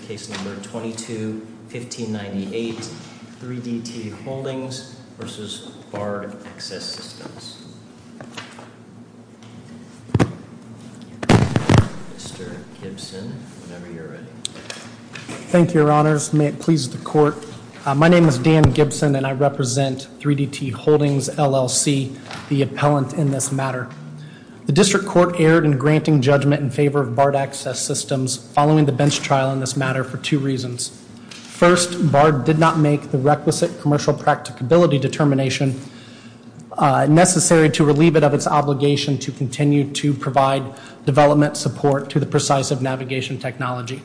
case number 22-1598 3DT Holdings v. Bard Access Systems, Mr. Gibson whenever you're ready. Thank you your honors, may it please the court. My name is Dan Gibson and I represent 3DT Holdings LLC, the appellant in this matter. The district court erred in granting judgment in favor of Bard Access Systems following the bench trial in this matter for two reasons. First, Bard did not make the requisite commercial practicability determination necessary to relieve it of its obligation to continue to provide development support to the Precisive Navigation Technology.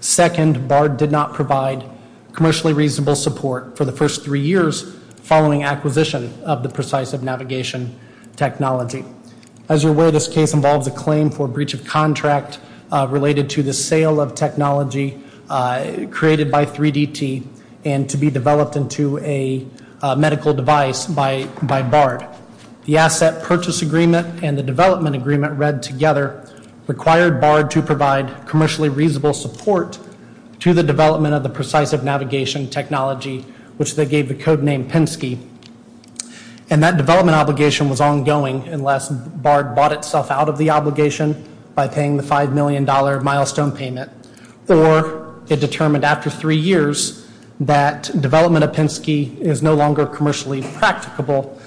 Second, Bard did not provide commercially reasonable support for the first three years following acquisition of the Precisive Navigation Technology. As you're aware, this case involves a claim for breach of technology created by 3DT and to be developed into a medical device by Bard. The Asset Purchase Agreement and the Development Agreement read together required Bard to provide commercially reasonable support to the development of the Precisive Navigation Technology, which they gave the code name Penske. And that development obligation was ongoing unless Bard bought itself out of the agreement or it determined after three years that development of Penske is no longer commercially practicable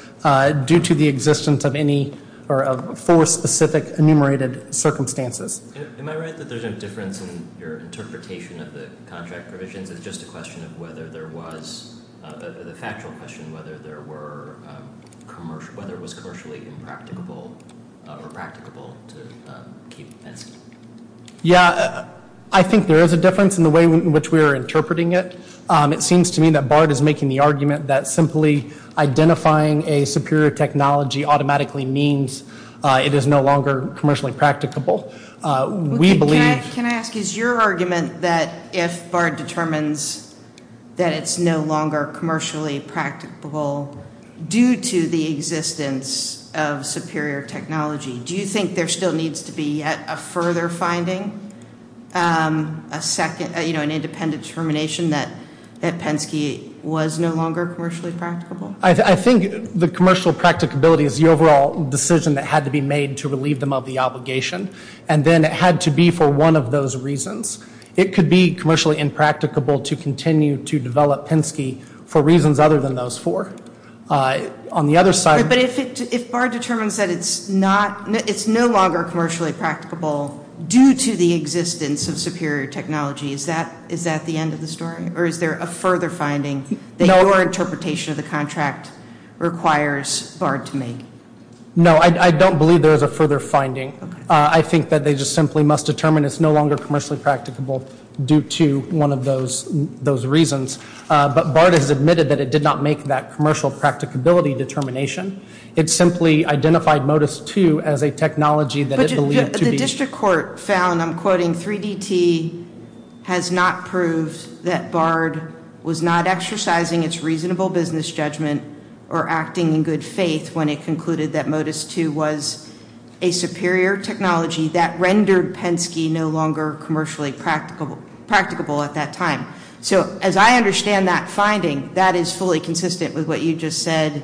due to the existence of any or of four specific enumerated circumstances. Am I right that there's a difference in your interpretation of the contract provisions? It's just a question of whether there was, the factual question, whether there were commercial, whether it was I think there is a difference in the way in which we are interpreting it. It seems to me that Bard is making the argument that simply identifying a superior technology automatically means it is no longer commercially practicable. We believe... Can I ask, is your argument that if Bard determines that it's no longer commercially practicable due to the existence of superior technology, do you think there still needs to be a further finding? A second, you know, an independent determination that Penske was no longer commercially practicable? I think the commercial practicability is the overall decision that had to be made to relieve them of the obligation. And then it had to be for one of those reasons. It could be commercially impracticable to continue to develop Penske for reasons other than those four. On the other side... But if Bard determines that it's not, it's no longer commercially practicable due to the existence of superior technology, is that the end of the story? Or is there a further finding that your interpretation of the contract requires Bard to make? No, I don't believe there's a further finding. I think that they just simply must determine it's no longer commercially practicable due to one of those reasons. But Bard has admitted that it did not make that commercial practicability determination. It simply identified MODIS II as a technology that it believed to be... But the district court found, I'm quoting, 3DT has not proved that Bard was not exercising its reasonable business judgment or acting in good faith when it concluded that MODIS II was a superior technology that rendered Penske no longer commercially practicable at that time. So as I understand that finding, that is fully consistent with what you just said,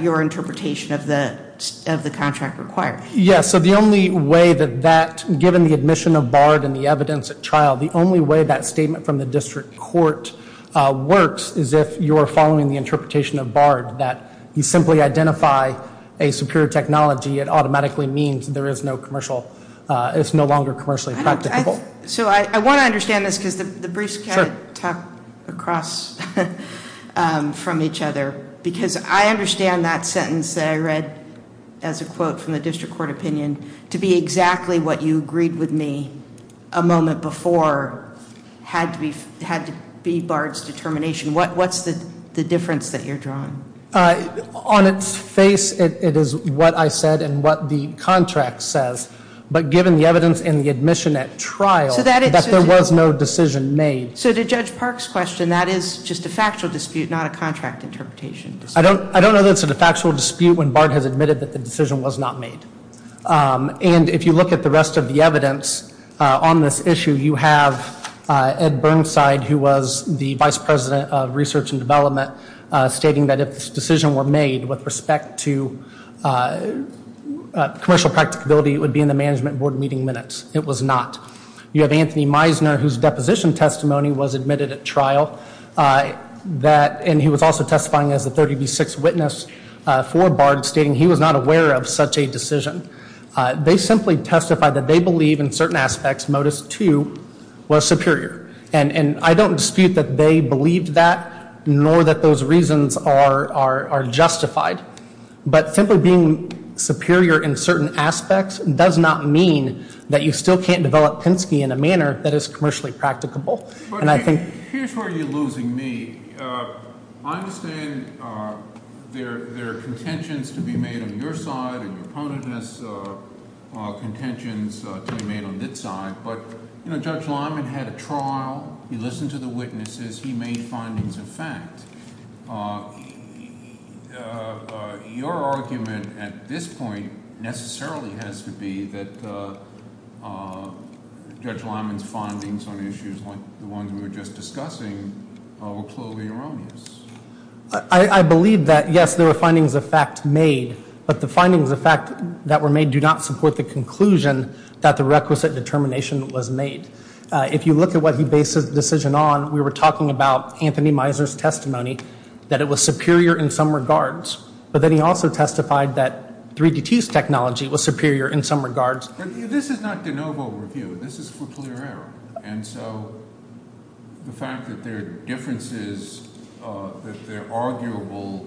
your interpretation of the contract requires. Yes, so the only way that that, given the admission of Bard and the evidence at trial, the only way that statement from the district court works is if you're following the interpretation of Bard, that you simply identify a superior technology, it automatically means there is no commercial, it's no longer commercially practicable. So I want to understand this because the briefs kind of tuck across from each other because I understand that sentence that I read as a quote from the district court opinion to be exactly what you agreed with me a moment before had to be had to be Bard's determination. What's the difference that you're drawing? On its face it is what I said and what the contract says, but given the evidence in the admission at trial, so there was no decision made. So to Judge Park's question, that is just a factual dispute, not a contract interpretation. I don't, I don't know that's a factual dispute when Bard has admitted that the decision was not made and if you look at the rest of the evidence on this issue, you have Ed Burnside who was the vice president of research and development stating that if this decision were made with respect to commercial practicability, it would be in management board meeting minutes. It was not. You have Anthony Meisner whose deposition testimony was admitted at trial that and he was also testifying as the 30B6 witness for Bard stating he was not aware of such a decision. They simply testified that they believe in certain aspects Modus II was superior and and I don't dispute that they believed that nor that those reasons are justified, but simply being superior in certain aspects does not mean that you still can't develop Penske in a manner that is commercially practicable and I think... Here's where you're losing me. I understand there are contentions to be made on your side and your opponent has contentions to be made on its side, but you know Judge Lyman had a trial, he listened to the witnesses, he made findings of fact. Your argument at this point necessarily has to be that Judge Lyman's findings on issues like the ones we were just discussing were clearly erroneous. I believe that yes, there were findings of fact made, but the findings of fact that were made do not support the conclusion that the requisite determination was made. If you look at what he based his decision on, we were talking about Anthony Meisner's testimony, that it was superior in some regards, but then he also testified that 3DT's technology was superior in some regards. This is not de novo review, this is for clear error, and so the fact that there are differences, that there are arguable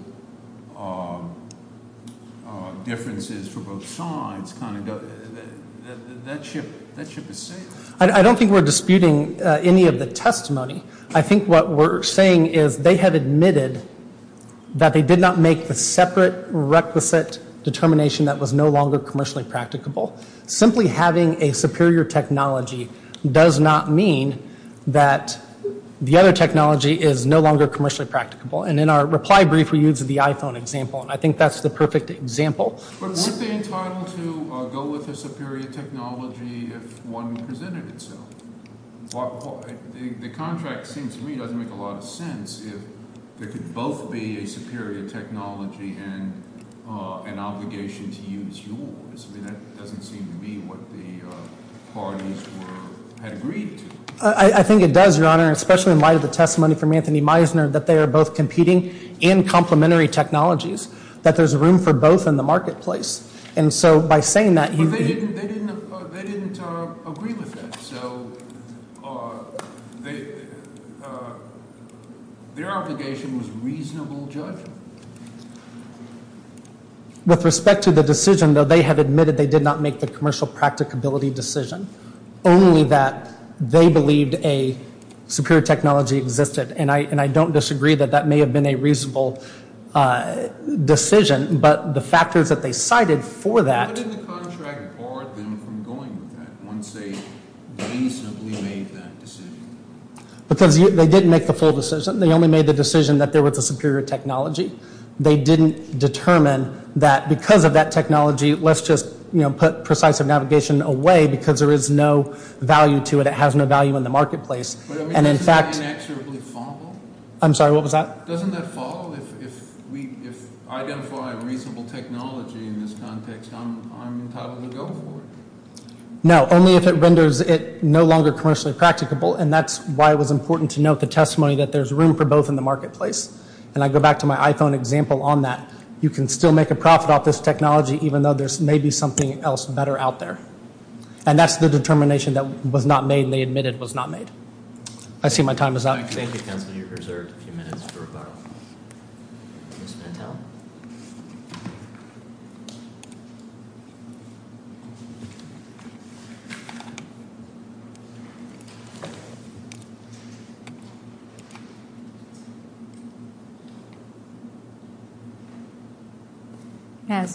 differences for both sides, that ship is safe. I don't think we're disputing any of the testimony. I think what we're saying is they have admitted that they did not make the separate requisite determination that was no longer commercially practicable. Simply having a superior technology does not mean that the other technology is no longer commercially practicable, and in our reply brief we used the iPhone example, and I think that's the perfect example. But weren't they entitled to go with a superior technology if one presented itself? The contract seems to me doesn't make a lot of sense if there could both be a superior technology and an obligation to use yours. I mean, that doesn't seem to be what the parties had agreed to. I think it does, Your Honor, especially in light of the testimony from Anthony Meisner, that they are both competing in complementary technologies, that there's room for both in the marketplace. And so by saying that- But they didn't agree with that, so their obligation was reasonable judgment. With respect to the decision, though, they had admitted they did not make the commercial practicability decision, only that they believed a superior technology existed. And I don't disagree that that may have been a reasonable decision, but the factors that they cited for that- Why didn't the contract bar them from going with that once they reasonably made that decision? Because they didn't make the full decision. They only made the decision that there was a superior technology. They didn't determine that because of that technology, let's just put precisive navigation away because there is no value to it. It has no value in the marketplace. But I mean, doesn't that inexorably fall? I'm sorry, what was that? Doesn't that fall if we identify reasonable technology in this context, I'm entitled to go for it? No, only if it renders it no longer commercially practicable, and that's why it was important to note the testimony that there's room for both in the marketplace. And I go back to my iPhone example on that. You can still make a profit off this technology, even though there's maybe something else better out there. And that's the determination that was not made and they admitted was not made. I see my time is up. Thank you, Councilor. You're reserved a few minutes for rebuttal. Mr. Mantel.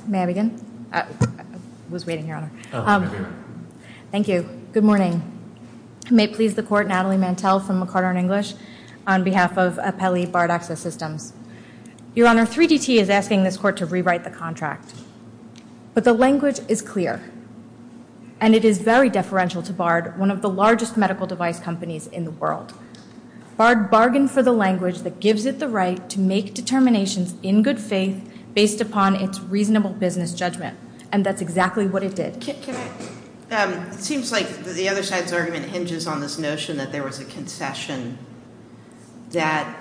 May I begin? I was waiting here. Thank you. Good morning. May it please the Court, Natalie Mantel from McCarter & English on behalf of Apelli Bard Access Systems. Your Honor, 3DT is asking this Court to rewrite the contract. But the language is clear, and it is very deferential to Bard, one of the largest medical device companies in the world. Bard bargained for the language that gives it the right to make determinations in good faith based upon its reasonable business judgment, and that's exactly what it did. It seems like the other side's argument hinges on this notion that there was a concession, that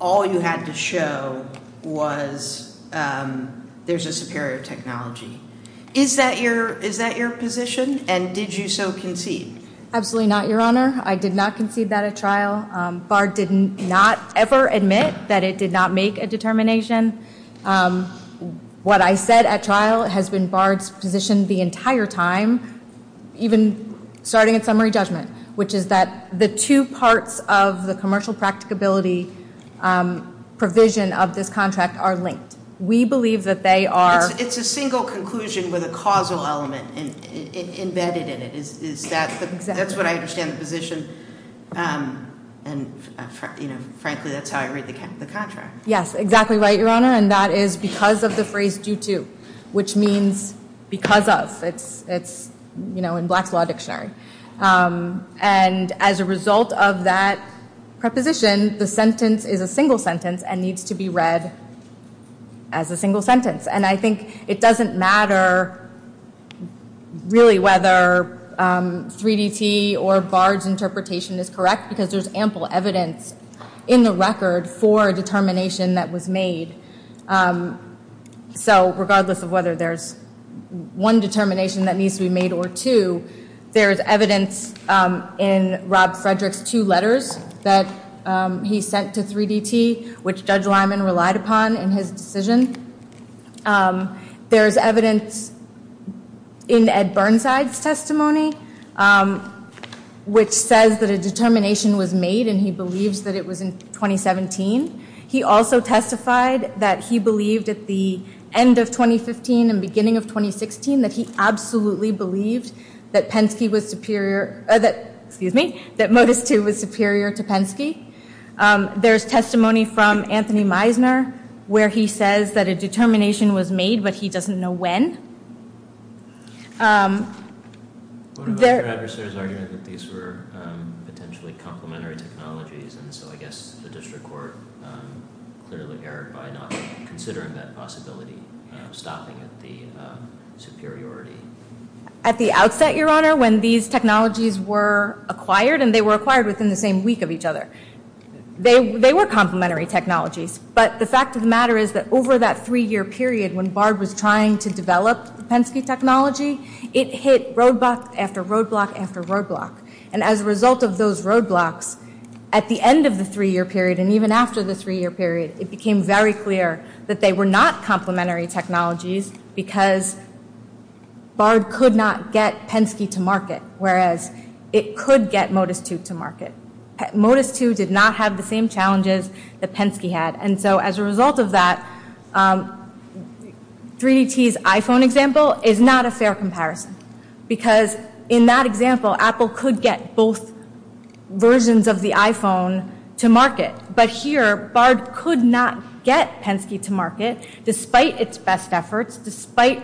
all you had to show was there's a superior technology. Is that your position, and did you so concede? Absolutely not, Your Honor. I did not concede that at trial. Bard did not ever admit that it did not make a determination. What I said at trial has been Bard's position the entire time, even starting at summary judgment, which is that the two parts of the commercial practicability provision of this contract are linked. We believe that they are. It's a single conclusion with a causal element embedded in it. Exactly. That's what I understand the position, and frankly, that's how I read the contract. Yes, exactly right, Your Honor, and that is because of the phrase due to, which means because of. It's in Black's Law Dictionary. And as a result of that preposition, the sentence is a single sentence and needs to be read as a single sentence. And I think it doesn't matter really whether 3DT or Bard's interpretation is correct because there's ample evidence in the record for a determination that was made. So regardless of whether there's one determination that needs to be made or two, there is evidence in Rob Frederick's two letters that he sent to 3DT, which Judge Lyman relied upon in his decision. There is evidence in Ed Burnside's testimony, which says that a determination was made, and he believes that it was in 2017. He also testified that he believed at the end of 2015 and beginning of 2016 that he absolutely believed that Modus II was superior to Penske. There's testimony from Anthony Meisner where he says that a determination was made, but he doesn't know when. What about your adversary's argument that these were potentially complementary technologies, and so I guess the district court clearly erred by not considering that possibility of stopping at the superiority? At the outset, Your Honor, when these technologies were acquired, and they were acquired within the same week of each other, they were complementary technologies. But the fact of the matter is that over that three-year period when Bard was trying to develop the Penske technology, it hit roadblock after roadblock after roadblock. And as a result of those roadblocks, at the end of the three-year period and even after the three-year period, it became very clear that they were not complementary technologies because Bard could not get Penske to market, and Modus II did not have the same challenges that Penske had. And so as a result of that, 3DT's iPhone example is not a fair comparison because in that example, Apple could get both versions of the iPhone to market. But here, Bard could not get Penske to market despite its best efforts, despite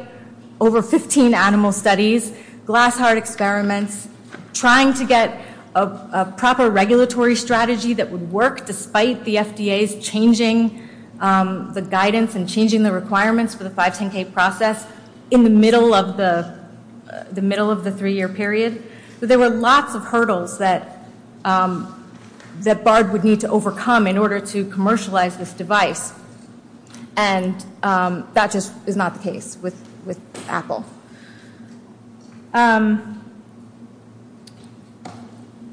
over 15 animal studies, glass heart experiments, trying to get a proper regulatory strategy that would work despite the FDA's changing the guidance and changing the requirements for the 510K process in the middle of the three-year period. So there were lots of hurdles that Bard would need to overcome in order to commercialize this device. And that just is not the case with Apple.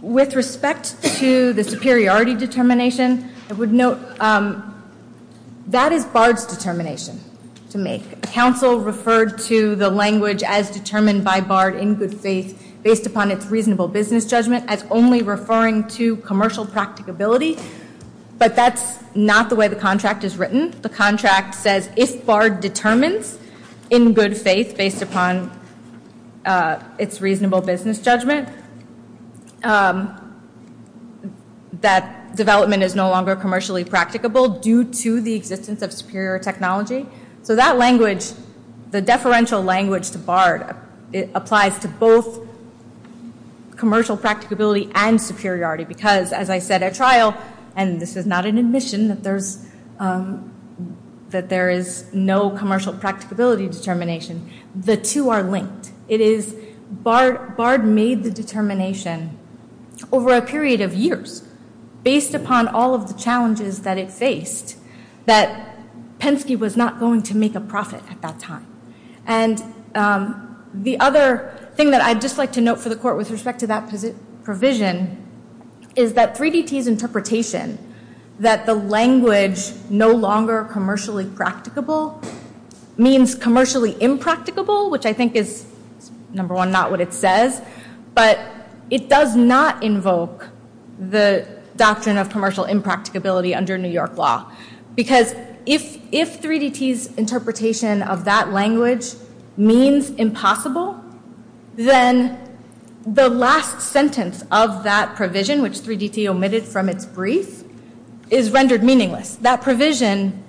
With respect to the superiority determination, I would note that is Bard's determination to make. Counsel referred to the language as determined by Bard in good faith based upon its reasonable business judgment as only referring to commercial practicability, but that's not the way the contract is written. The contract says if Bard determines in good faith based upon its reasonable business judgment, that development is no longer commercially practicable due to the existence of superior technology. So that language, the deferential language to Bard, applies to both commercial practicability and superiority because as I said at trial, and this is not an admission that there is no commercial practicability determination, the two are linked. It is Bard made the determination over a period of years based upon all of the challenges that it faced that Penske was not going to make a profit at that time. And the other thing that I'd just like to note for the court with respect to that provision is that 3DT's interpretation that the language no longer commercially practicable means commercially impracticable, which I think is, number one, not what it says, but it does not invoke the doctrine of commercial impracticability under New York law. Because if 3DT's interpretation of that language means impossible, then the last sentence of that provision, which 3DT omitted from its brief, is rendered meaningless. That provision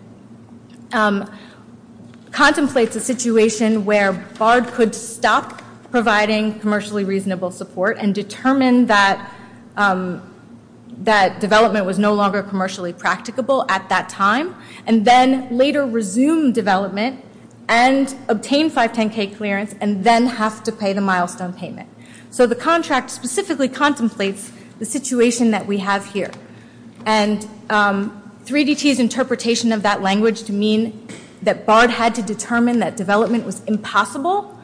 contemplates a situation where Bard could stop providing commercially reasonable support and determine that development was no longer commercially practicable at that time and then later resume development and obtain 510K clearance and then have to pay the milestone payment. So the contract specifically contemplates the situation that we have here. And 3DT's interpretation of that language to mean that Bard had to determine that development was impossible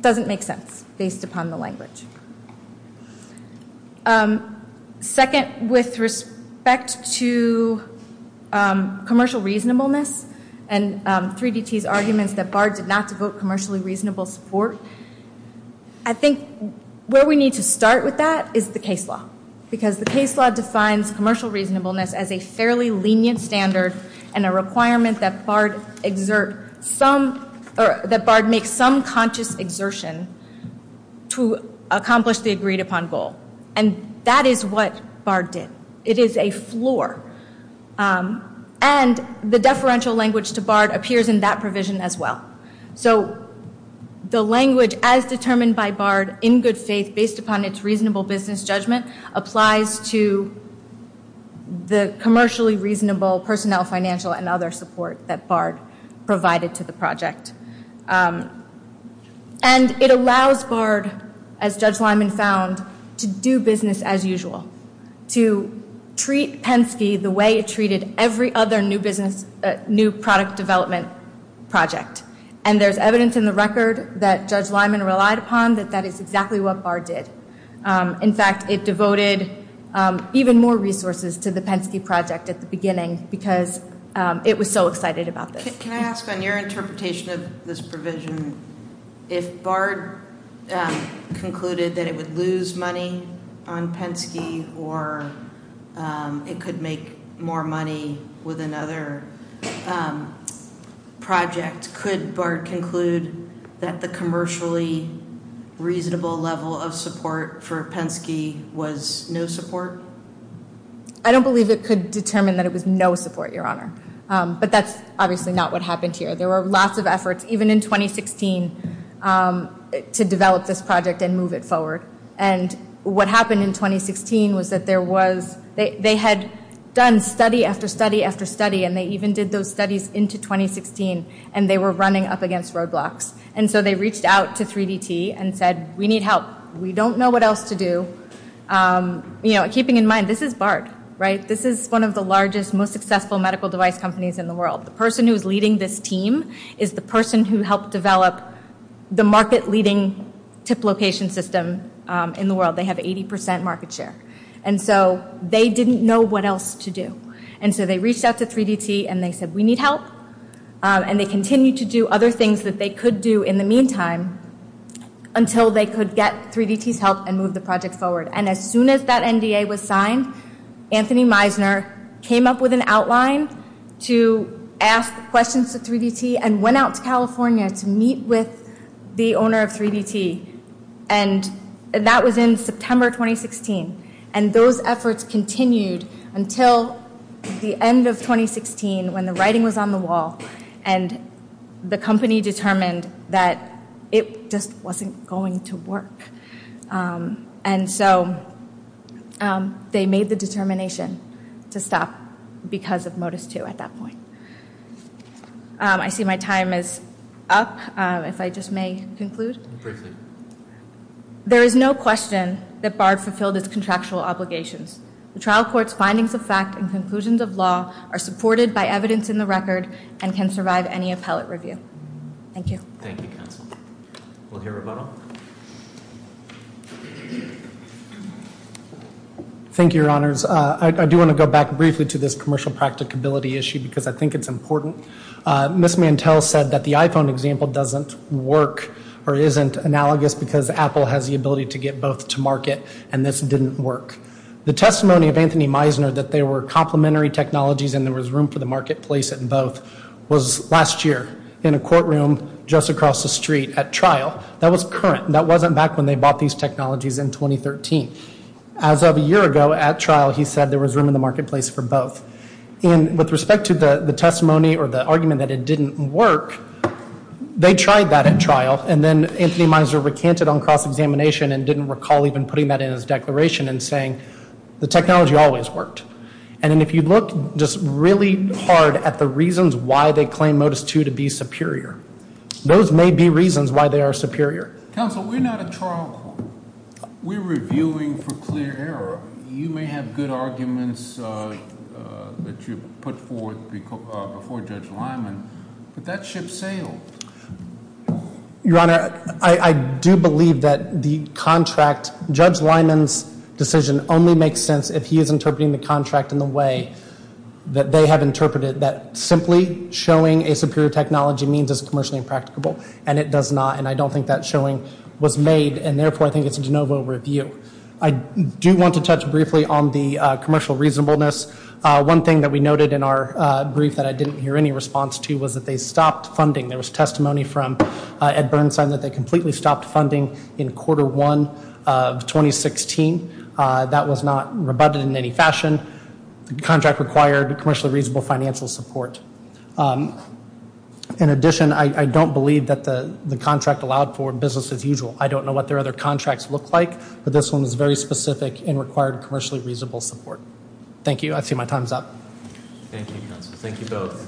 doesn't make sense based upon the language. Second, with respect to commercial reasonableness and 3DT's arguments that Bard did not devote commercially reasonable support, I think where we need to start with that is the case law. Because the case law defines commercial reasonableness as a fairly lenient standard and a requirement that Bard make some conscious exertion to accomplish the agreed upon goal. And that is what Bard did. It is a floor. And the deferential language to Bard appears in that provision as well. So the language as determined by Bard in good faith based upon its reasonable business judgment applies to the commercially reasonable personnel financial and other support that Bard provided to the project. And it allows Bard, as Judge Lyman found, to do business as usual. To treat Penske the way it treated every other new product development project. And there's evidence in the record that Judge Lyman relied upon that that is exactly what Bard did. In fact, it devoted even more resources to the Penske project at the beginning because it was so excited about this. Can I ask on your interpretation of this provision, if Bard concluded that it would lose money on Penske or it could make more money with another project, could Bard conclude that the commercially reasonable level of support for Penske was no support? I don't believe it could determine that it was no support, Your Honor. But that's obviously not what happened here. There were lots of efforts, even in 2016, to develop this project and move it forward. And what happened in 2016 was that there was, they had done study after study after study and they even did those studies into 2016 and they were running up against roadblocks. And so they reached out to 3DT and said, we need help. We don't know what else to do. Keeping in mind, this is Bard, right? This is one of the largest, most successful medical device companies in the world. The person who is leading this team is the person who helped develop the market-leading tip location system in the world. They have 80% market share. And so they didn't know what else to do. And so they reached out to 3DT and they said, we need help. And they continued to do other things that they could do in the meantime until they could get 3DT's help and move the project forward. And as soon as that NDA was signed, Anthony Meisner came up with an outline to ask questions to 3DT and went out to California to meet with the owner of 3DT. And that was in September 2016. And those efforts continued until the end of 2016 when the writing was on the wall and the company determined that it just wasn't going to work. And so they made the determination to stop because of Modus II at that point. I see my time is up, if I just may conclude. There is no question that Bard fulfilled its contractual obligations. The trial court's findings of fact and conclusions of law are supported by evidence in the record and can survive any appellate review. Thank you. Thank you, counsel. We'll hear a rebuttal. Thank you, Your Honors. I do want to go back briefly to this commercial practicability issue because I think it's important. Ms. Mantel said that the iPhone example doesn't work or isn't analogous because Apple has the ability to get both to market and this didn't work. The testimony of Anthony Meisner that there were complementary technologies and there was room for the marketplace in both was last year in a courtroom just across the street at trial. That was current. That wasn't back when they bought these technologies in 2013. As of a year ago at trial, he said there was room in the marketplace for both. And with respect to the testimony or the argument that it didn't work, they tried that at trial and then Anthony Meisner recanted on cross-examination and didn't recall even putting that in his declaration and saying the technology always worked. And if you look just really hard at the reasons why they claim Modus II to be superior, those may be reasons why they are superior. Counsel, we're not a trial court. We're reviewing for clear error. You may have good arguments that you put forth before Judge Lyman, but that ship sailed. Your Honor, I do believe that the contract, Judge Lyman's decision only makes sense if he is interpreting the contract in the way that they have interpreted it, that simply showing a superior technology means it's commercially impracticable and it does not. And I don't think that showing was made and, therefore, I think it's a de novo review. I do want to touch briefly on the commercial reasonableness. One thing that we noted in our brief that I didn't hear any response to was that they stopped funding. There was testimony from Ed Bernstein that they completely stopped funding in quarter one of 2016. That was not rebutted in any fashion. The contract required commercially reasonable financial support. In addition, I don't believe that the contract allowed for business as usual. I don't know what their other contracts look like, but this one was very specific and required commercially reasonable support. Thank you. I see my time's up. Thank you, Counsel. Thank you both.